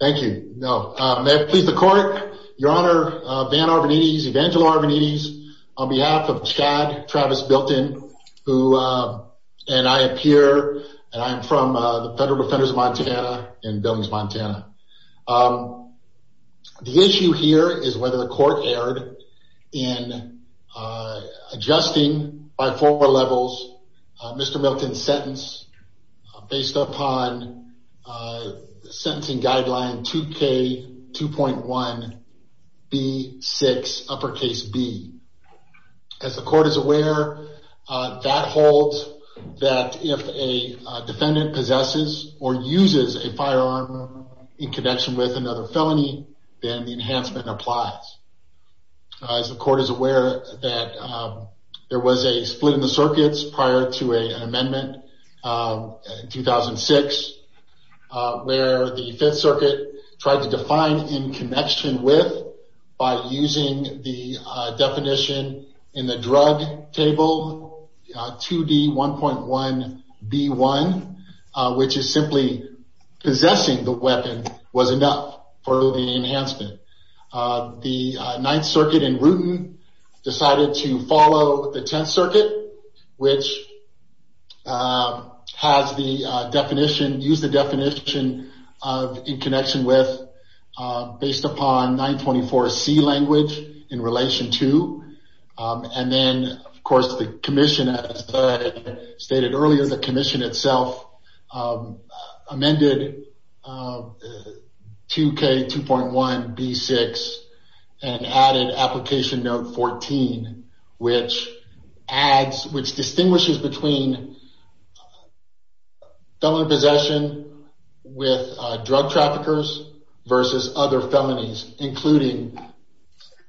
Thank you. May it please the court, your honor, Van Arvanites, Evangelo Arvanites, on behalf of Chad Travis Milton, who, and I appear, and I'm from the Federal Defenders of Montana in Billings, Montana. The issue here is whether the court erred in adjusting by four levels Mr. Milton's sentence based upon sentencing guideline 2K2.1B6B. As the court is aware, that holds that if a defendant possesses or uses a firearm in connection with another felony, then the enhancement applies. As the court is aware, that there was a split in the circuits prior to an amendment in 2006, where the Fifth Circuit tried to define in connection with, by using the definition in the drug table, 2D1.1B1, which is simply possessing the weapon was enough for the enhancement. The Ninth Circuit in Rooten decided to follow the Tenth Circuit, which has the definition, used the definition of in connection with based upon 924C language in relation to. And then, of course, the commission, as I stated earlier, the commission itself amended 2K2.1B6 and added application note 14, which adds, which distinguishes between felon possession with drug traffickers versus other felonies, including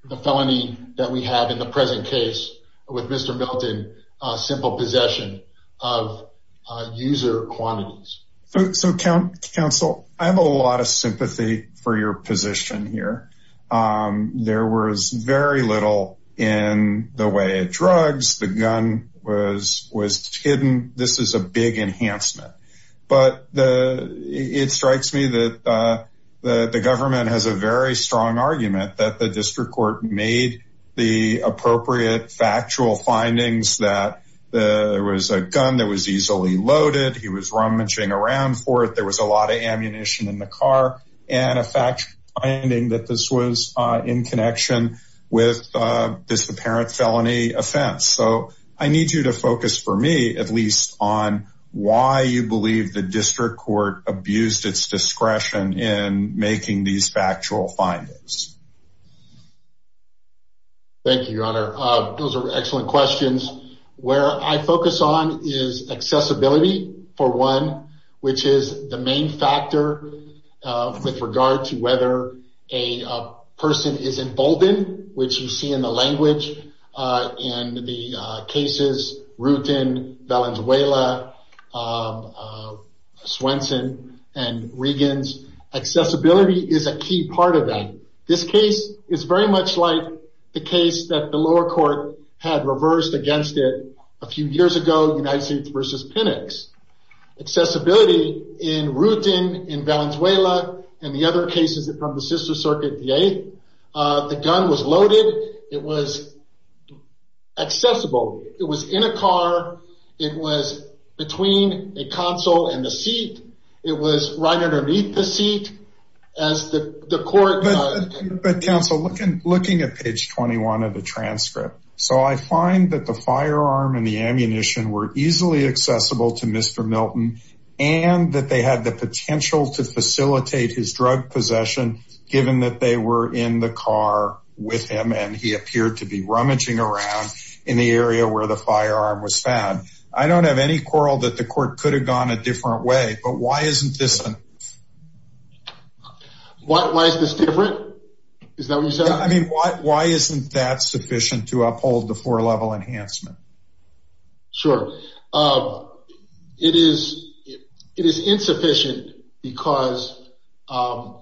the felony that we have in the first case. And in the present case with Mr. Milton, simple possession of user quantities. So counsel, I have a lot of sympathy for your position here. There was very little in the way of drugs. The gun was hidden. This is a big enhancement. But it strikes me that the government has a very strong argument that the district court made the appropriate factual findings that there was a gun that was easily loaded. He was rummaging around for it. There was a lot of ammunition in the car and a fact finding that this was in connection with this apparent felony offense. So I need you to focus for me, at least, on why you believe the district court abused its discretion in making these factual findings. Thank you, Your Honor. Those are excellent questions. Where I focus on is accessibility, for one, which is the main factor with regard to whether a person is emboldened, which you see in the language in the cases Rootin, Valenzuela, Swenson, and Regans. Accessibility is a key part of that. This case is very much like the case that the lower court had reversed against it a few years ago, United States v. Pinnocks. Accessibility in Rootin, in Valenzuela, and the other cases from the sister circuit, the 8th, the gun was loaded. It was accessible. It was in a car. It was between a console and a seat. It was right underneath the seat as the court- But counsel, looking at page 21 of the transcript, so I find that the firearm and the ammunition were easily accessible to Mr. Milton and that they had the potential to facilitate his drug possession, given that they were in the car with him and he appeared to be rummaging around in the area where the firearm was found. I don't have any quarrel that the court could have gone a different way, but why isn't this- Why is this different? Is that what you said? I mean, why isn't that sufficient to uphold the four-level enhancement? Sure. It is insufficient because the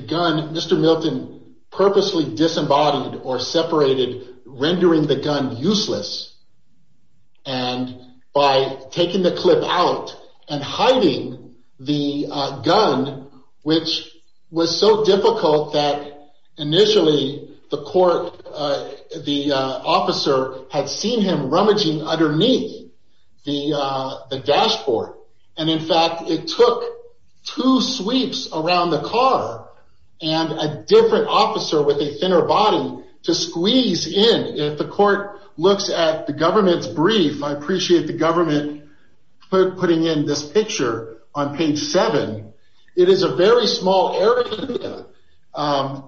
gun, Mr. Milton purposely disembodied or separated, rendering the gun useless. And by taking the clip out and hiding the gun, which was so difficult that initially the court- the officer had seen him rummaging underneath the dashboard. And in fact, it took two sweeps around the car and a different officer with a thinner body to squeeze in. If the court looks at the government's brief, I appreciate the government putting in this picture on page seven. It is a very small area.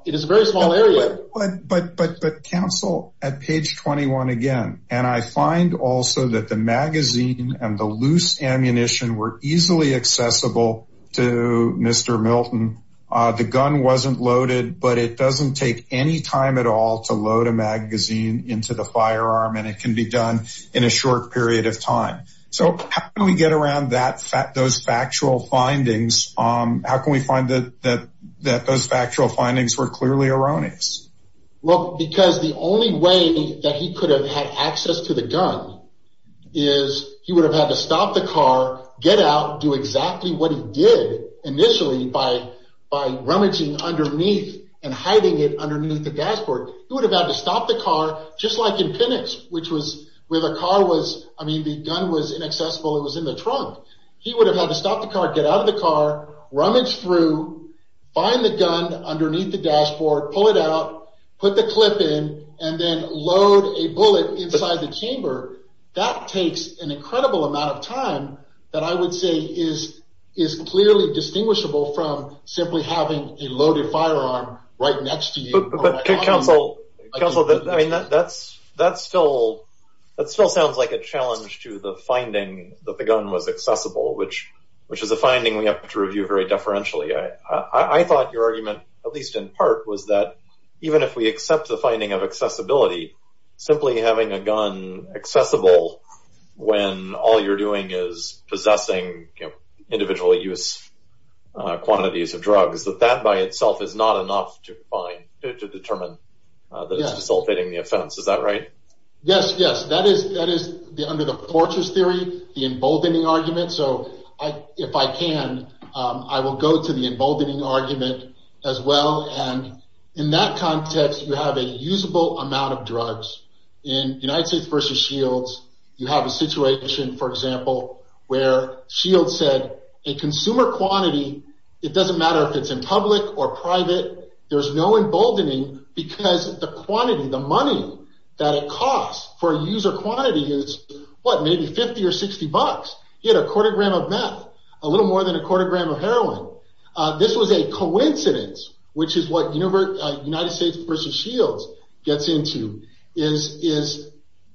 It is a very small area. But counsel, at page 21 again, and I find also that the magazine and the loose ammunition were easily accessible to Mr. Milton. The gun wasn't loaded, but it doesn't take any time at all to load a magazine into the firearm and it can be done in a short period of time. So how can we get around those factual findings? How can we find that those factual findings were clearly erroneous? Well, because the only way that he could have had access to the gun is he would have had to stop the car, get out, do exactly what he did initially by rummaging underneath and hiding it underneath the dashboard. He would have had to stop the car, just like in Penix, where the gun was inaccessible, it was in the trunk. He would have had to stop the car, get out of the car, rummage through, find the gun underneath the dashboard, pull it out, put the clip in, and then load a bullet inside the chamber. That takes an incredible amount of time that I would say is clearly distinguishable from simply having a loaded firearm right next to you. But, Counsel, that still sounds like a challenge to the finding that the gun was accessible, which is a finding we have to review very deferentially. I thought your argument, at least in part, was that even if we accept the finding of accessibility, simply having a gun accessible when all you're doing is possessing individual use quantities of drugs, that that by itself is not enough to find, to determine that it's dissipating the offense. Is that right? Yes, yes. That is under the fortress theory, the emboldening argument. So if I can, I will go to the emboldening argument as well. And in that context, you have a usable amount of drugs. In United States v. Shields, you have a situation, for example, where Shields said a consumer quantity, it doesn't matter if it's in public or private, there's no emboldening because the quantity, the money that it costs for a user quantity is, what, maybe 50 or 60 bucks. He had a quarter gram of meth, a little more than a quarter gram of heroin. This was a coincidence, which is what United States v. Shields gets into, is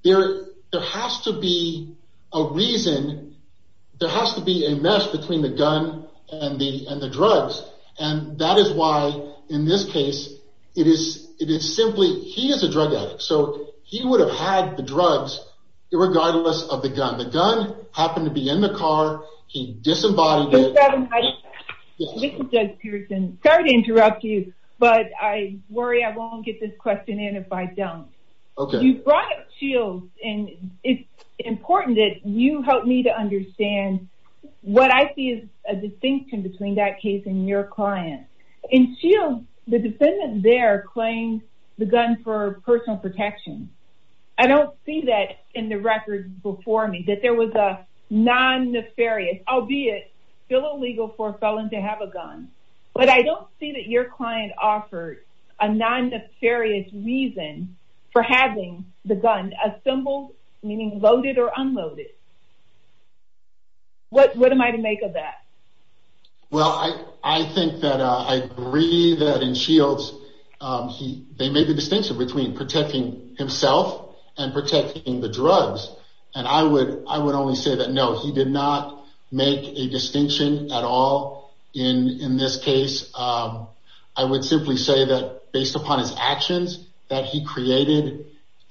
there has to be a reason, there has to be a mess between the gun and the drugs. And that is why, in this case, it is simply, he is a drug addict, so he would have had the drugs regardless of the gun. Now, the gun happened to be in the car, he disembodied it. Mr. Evans, this is Judge Pearson. Sorry to interrupt you, but I worry I won't get this question in if I don't. You brought up Shields, and it's important that you help me to understand what I see as a distinction between that case and your client. In Shields, the defendant there claims the gun for personal protection. I don't see that in the record before me, that there was a non-nefarious, albeit still illegal for a felon to have a gun. But I don't see that your client offered a non-nefarious reason for having the gun assembled, meaning loaded or unloaded. What am I to make of that? Well, I think that I agree that in Shields, they made the distinction between protecting himself and protecting the drugs. And I would only say that, no, he did not make a distinction at all in this case. I would simply say that, based upon his actions, that he created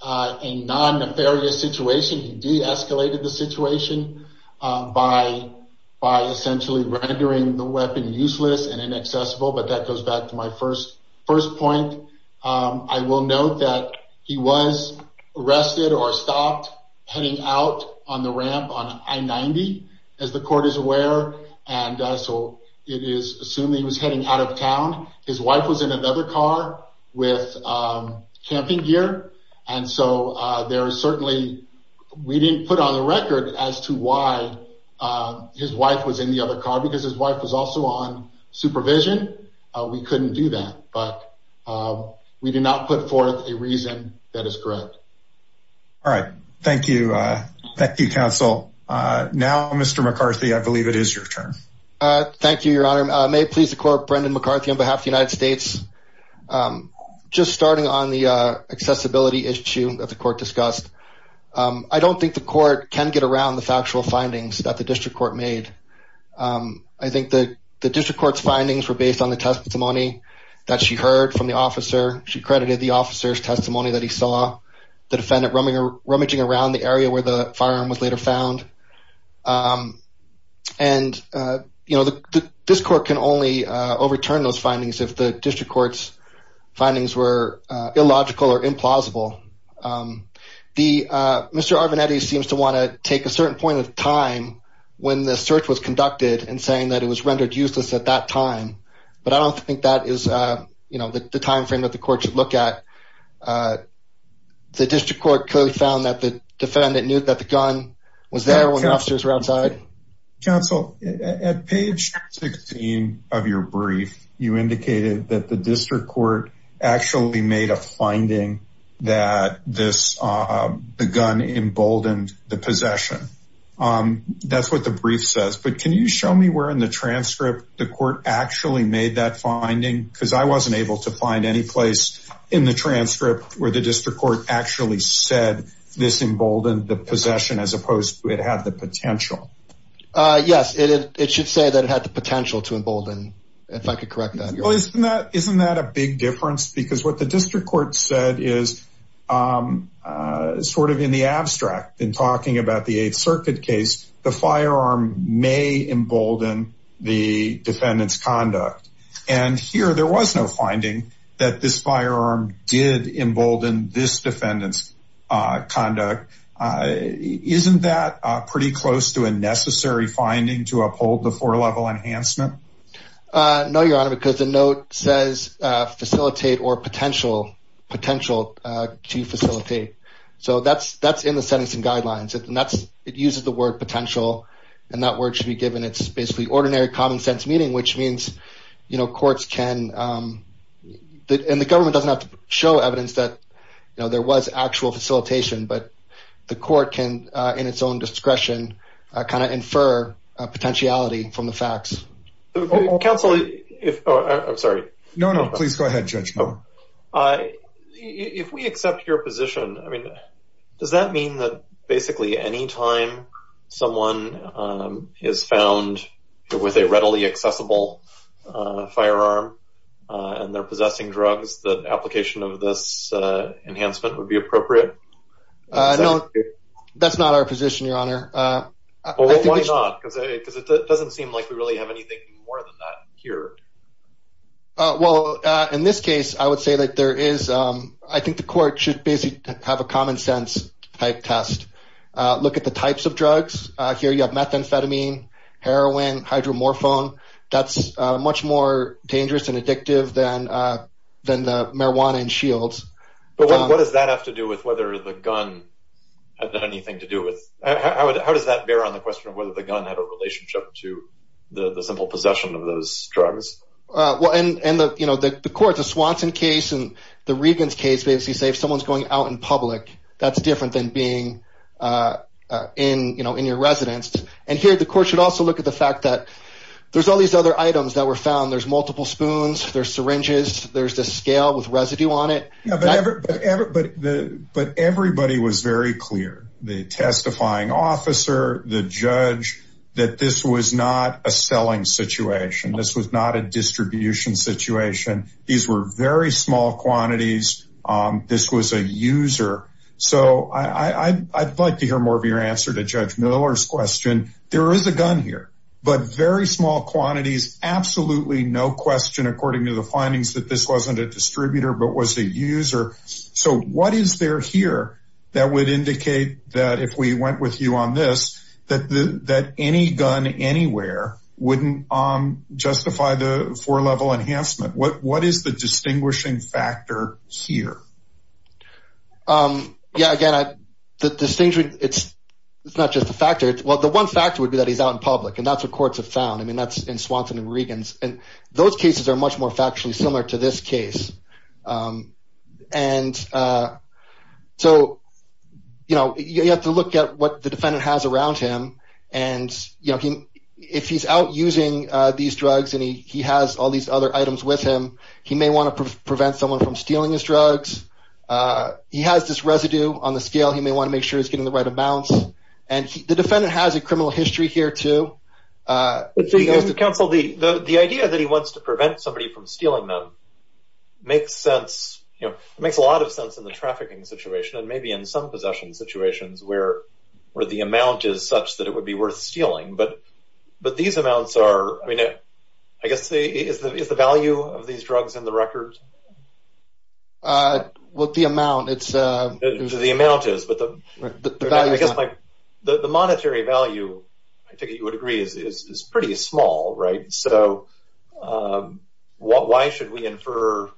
a non-nefarious situation. He de-escalated the situation by essentially rendering the weapon useless and inaccessible. But that goes back to my first point. I will note that he was arrested or stopped heading out on the ramp on I-90, as the court is aware. And so it is assumed that he was heading out of town. His wife was in another car with camping gear. And so there is certainly, we didn't put on the record as to why his wife was in the other car, because his wife was also on supervision. We couldn't do that, but we did not put forth a reason that is correct. All right. Thank you. Thank you, counsel. Now, Mr. McCarthy, I believe it is your turn. Thank you, Your Honor. May it please the court, Brendan McCarthy on behalf of the United States. Just starting on the accessibility issue that the court discussed. I don't think the court can get around the factual findings that the district court made. I think that the district court's findings were based on the testimony that she heard from the officer. She credited the officer's testimony that he saw the defendant rummaging around the area where the firearm was later found. And, you know, this court can only overturn those findings if the district court's findings were illogical or implausible. Mr. Arvanetti seems to want to take a certain point of time when the search was conducted and saying that it was rendered useless at that time. But I don't think that is the time frame that the court should look at. The district court clearly found that the defendant knew that the gun was there when officers were outside. Counsel, at page 16 of your brief, you indicated that the district court actually made a finding that the gun emboldened the possession. That's what the brief says. But can you show me where in the transcript the court actually made that finding? Because I wasn't able to find any place in the transcript where the district court actually said this emboldened the possession as opposed to it had the potential. Yes, it should say that it had the potential to embolden, if I could correct that. Well, isn't that isn't that a big difference? Because what the district court said is sort of in the abstract in talking about the Eighth Circuit case, the firearm may embolden the defendant's conduct. And here there was no finding that this firearm did embolden this defendant's conduct. Isn't that pretty close to a necessary finding to uphold the four level enhancement? No, Your Honor, because the note says facilitate or potential potential to facilitate. So that's that's in the sentencing guidelines. And that's it uses the word potential. And that word should be given. It's basically ordinary common sense meaning, which means, you know, courts can. And the government doesn't have to show evidence that, you know, there was actual facilitation. But the court can, in its own discretion, kind of infer potentiality from the facts. Counsel, if I'm sorry. No, no. Please go ahead, Judge. If we accept your position, I mean, does that mean that basically any time someone is found with a readily accessible firearm and they're possessing drugs, the application of this enhancement would be appropriate? No, that's not our position, Your Honor. Why not? Because it doesn't seem like we really have anything more than that here. Well, in this case, I would say that there is. I think the court should basically have a common sense type test. Look at the types of drugs here. You have methamphetamine, heroin, hydromorphone. That's much more dangerous and addictive than than the marijuana and shields. But what does that have to do with whether the gun had anything to do with it? How does that bear on the question of whether the gun had a relationship to the simple possession of those drugs? Well, and, you know, the court, the Swanson case and the Regan's case basically say if someone's going out in public, that's different than being in, you know, in your residence. And here the court should also look at the fact that there's all these other items that were found. There's multiple spoons, there's syringes, there's the scale with residue on it. But everybody was very clear, the testifying officer, the judge, that this was not a selling situation. This was not a distribution situation. These were very small quantities. This was a user. So I'd like to hear more of your answer to Judge Miller's question. There is a gun here, but very small quantities. Absolutely no question, according to the findings, that this wasn't a distributor, but was a user. So what is there here that would indicate that if we went with you on this, that that any gun anywhere wouldn't justify the four level enhancement? What what is the distinguishing factor here? Yeah, again, the distinction, it's it's not just a factor. Well, the one factor would be that he's out in public and that's what courts have found. I mean, that's in Swanson and Regans. And those cases are much more factually similar to this case. And so, you know, you have to look at what the defendant has around him. And, you know, if he's out using these drugs and he has all these other items with him, he may want to prevent someone from stealing his drugs. He has this residue on the scale. He may want to make sure he's getting the right amount. And the defendant has a criminal history here, too. Counsel, the the idea that he wants to prevent somebody from stealing them makes sense. You know, it makes a lot of sense in the trafficking situation and maybe in some possession situations where where the amount is such that it would be worth stealing. But but these amounts are, I mean, I guess the is the value of these drugs in the record. Well, the amount it's the amount is, but I guess the monetary value, I think you would agree, is pretty small. Right. So why should we infer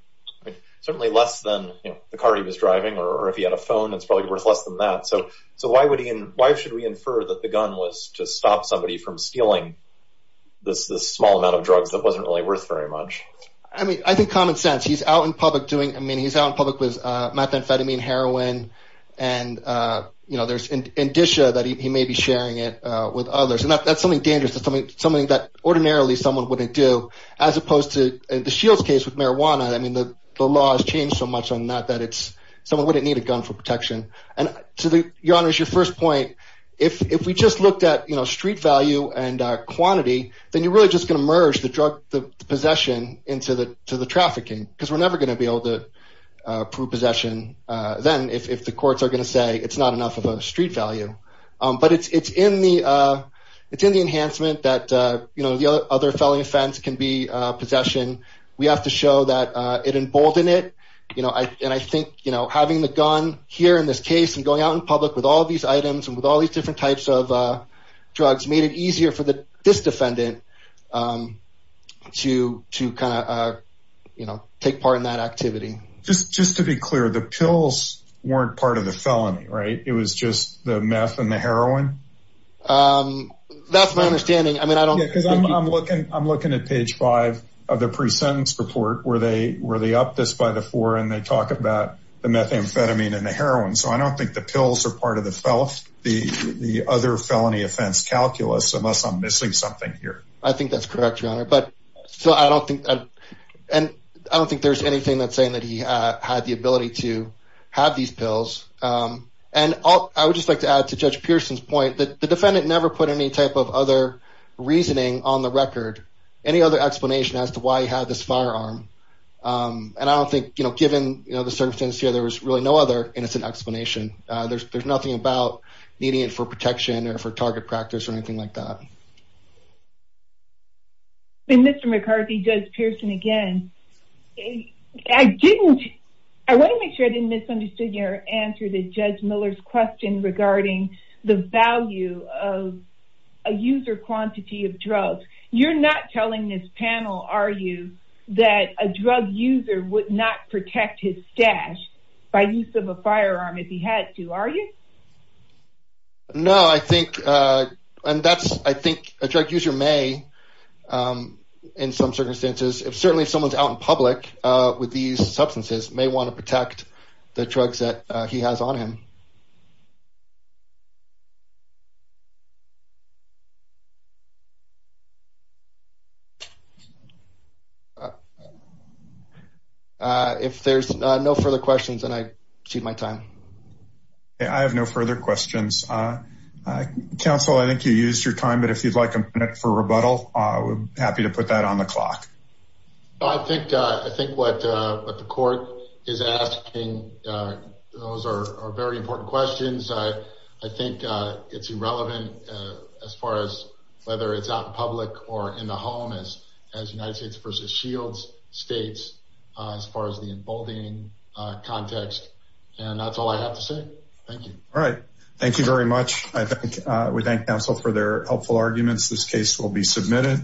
certainly less than the car he was driving or if he had a phone, it's probably worth less than that. So so why would he and why should we infer that the gun was to stop somebody from stealing this small amount of drugs that wasn't really worth very much? I mean, I think common sense. He's out in public doing I mean, he's out in public with methamphetamine, heroin. And, you know, there's an indicia that he may be sharing it with others. And that's something dangerous, something something that ordinarily someone wouldn't do, as opposed to the Shields case with marijuana. I mean, the law has changed so much on that, that it's someone wouldn't need a gun for protection. And to your honor's your first point, if we just looked at, you know, street value and quantity, then you're really just going to merge the drug, the possession into the to the trafficking, because we're never going to be able to prove possession. Then if the courts are going to say it's not enough of a street value. But it's in the it's in the enhancement that, you know, the other felony offense can be possession. We have to show that it emboldened it. You know, and I think, you know, having the gun here in this case and going out in public with all these items and with all these different types of drugs made it easier for this defendant to to kind of, you know, take part in that activity. Just just to be clear, the pills weren't part of the felony. Right. It was just the meth and the heroin. That's my understanding. I mean, I don't because I'm looking I'm looking at page five of the presentence report where they were. They upped this by the four and they talk about the methamphetamine and the heroin. So I don't think the pills are part of the fell off the other felony offense calculus unless I'm missing something here. I think that's correct. But so I don't think and I don't think there's anything that's saying that he had the ability to have these pills. And I would just like to add to Judge Pearson's point that the defendant never put any type of other reasoning on the record, any other explanation as to why he had this firearm. And I don't think, you know, the circumstances here, there was really no other innocent explanation. There's there's nothing about needing it for protection or for target practice or anything like that. Mr. McCarthy, Judge Pearson, again, I didn't I want to make sure I didn't misunderstood your answer to Judge Miller's question regarding the value of a user quantity of drugs. You're not telling this panel, are you, that a drug user would not protect his stash by use of a firearm if he had to, are you? No, I think and that's I think a drug user may in some circumstances, if certainly someone's out in public with these substances may want to protect the drugs that he has on him. If there's no further questions and I see my time. I have no further questions. Counsel, I think you used your time. But if you'd like a minute for rebuttal, I would be happy to put that on the clock. I think I think what the court is asking, those are very important questions. I think it's irrelevant as far as whether it's out in public or in the home, as United States versus Shields states, as far as the emboldening context. And that's all I have to say. Thank you. All right. Thank you very much. I think we thank counsel for their helpful arguments. This case will be submitted.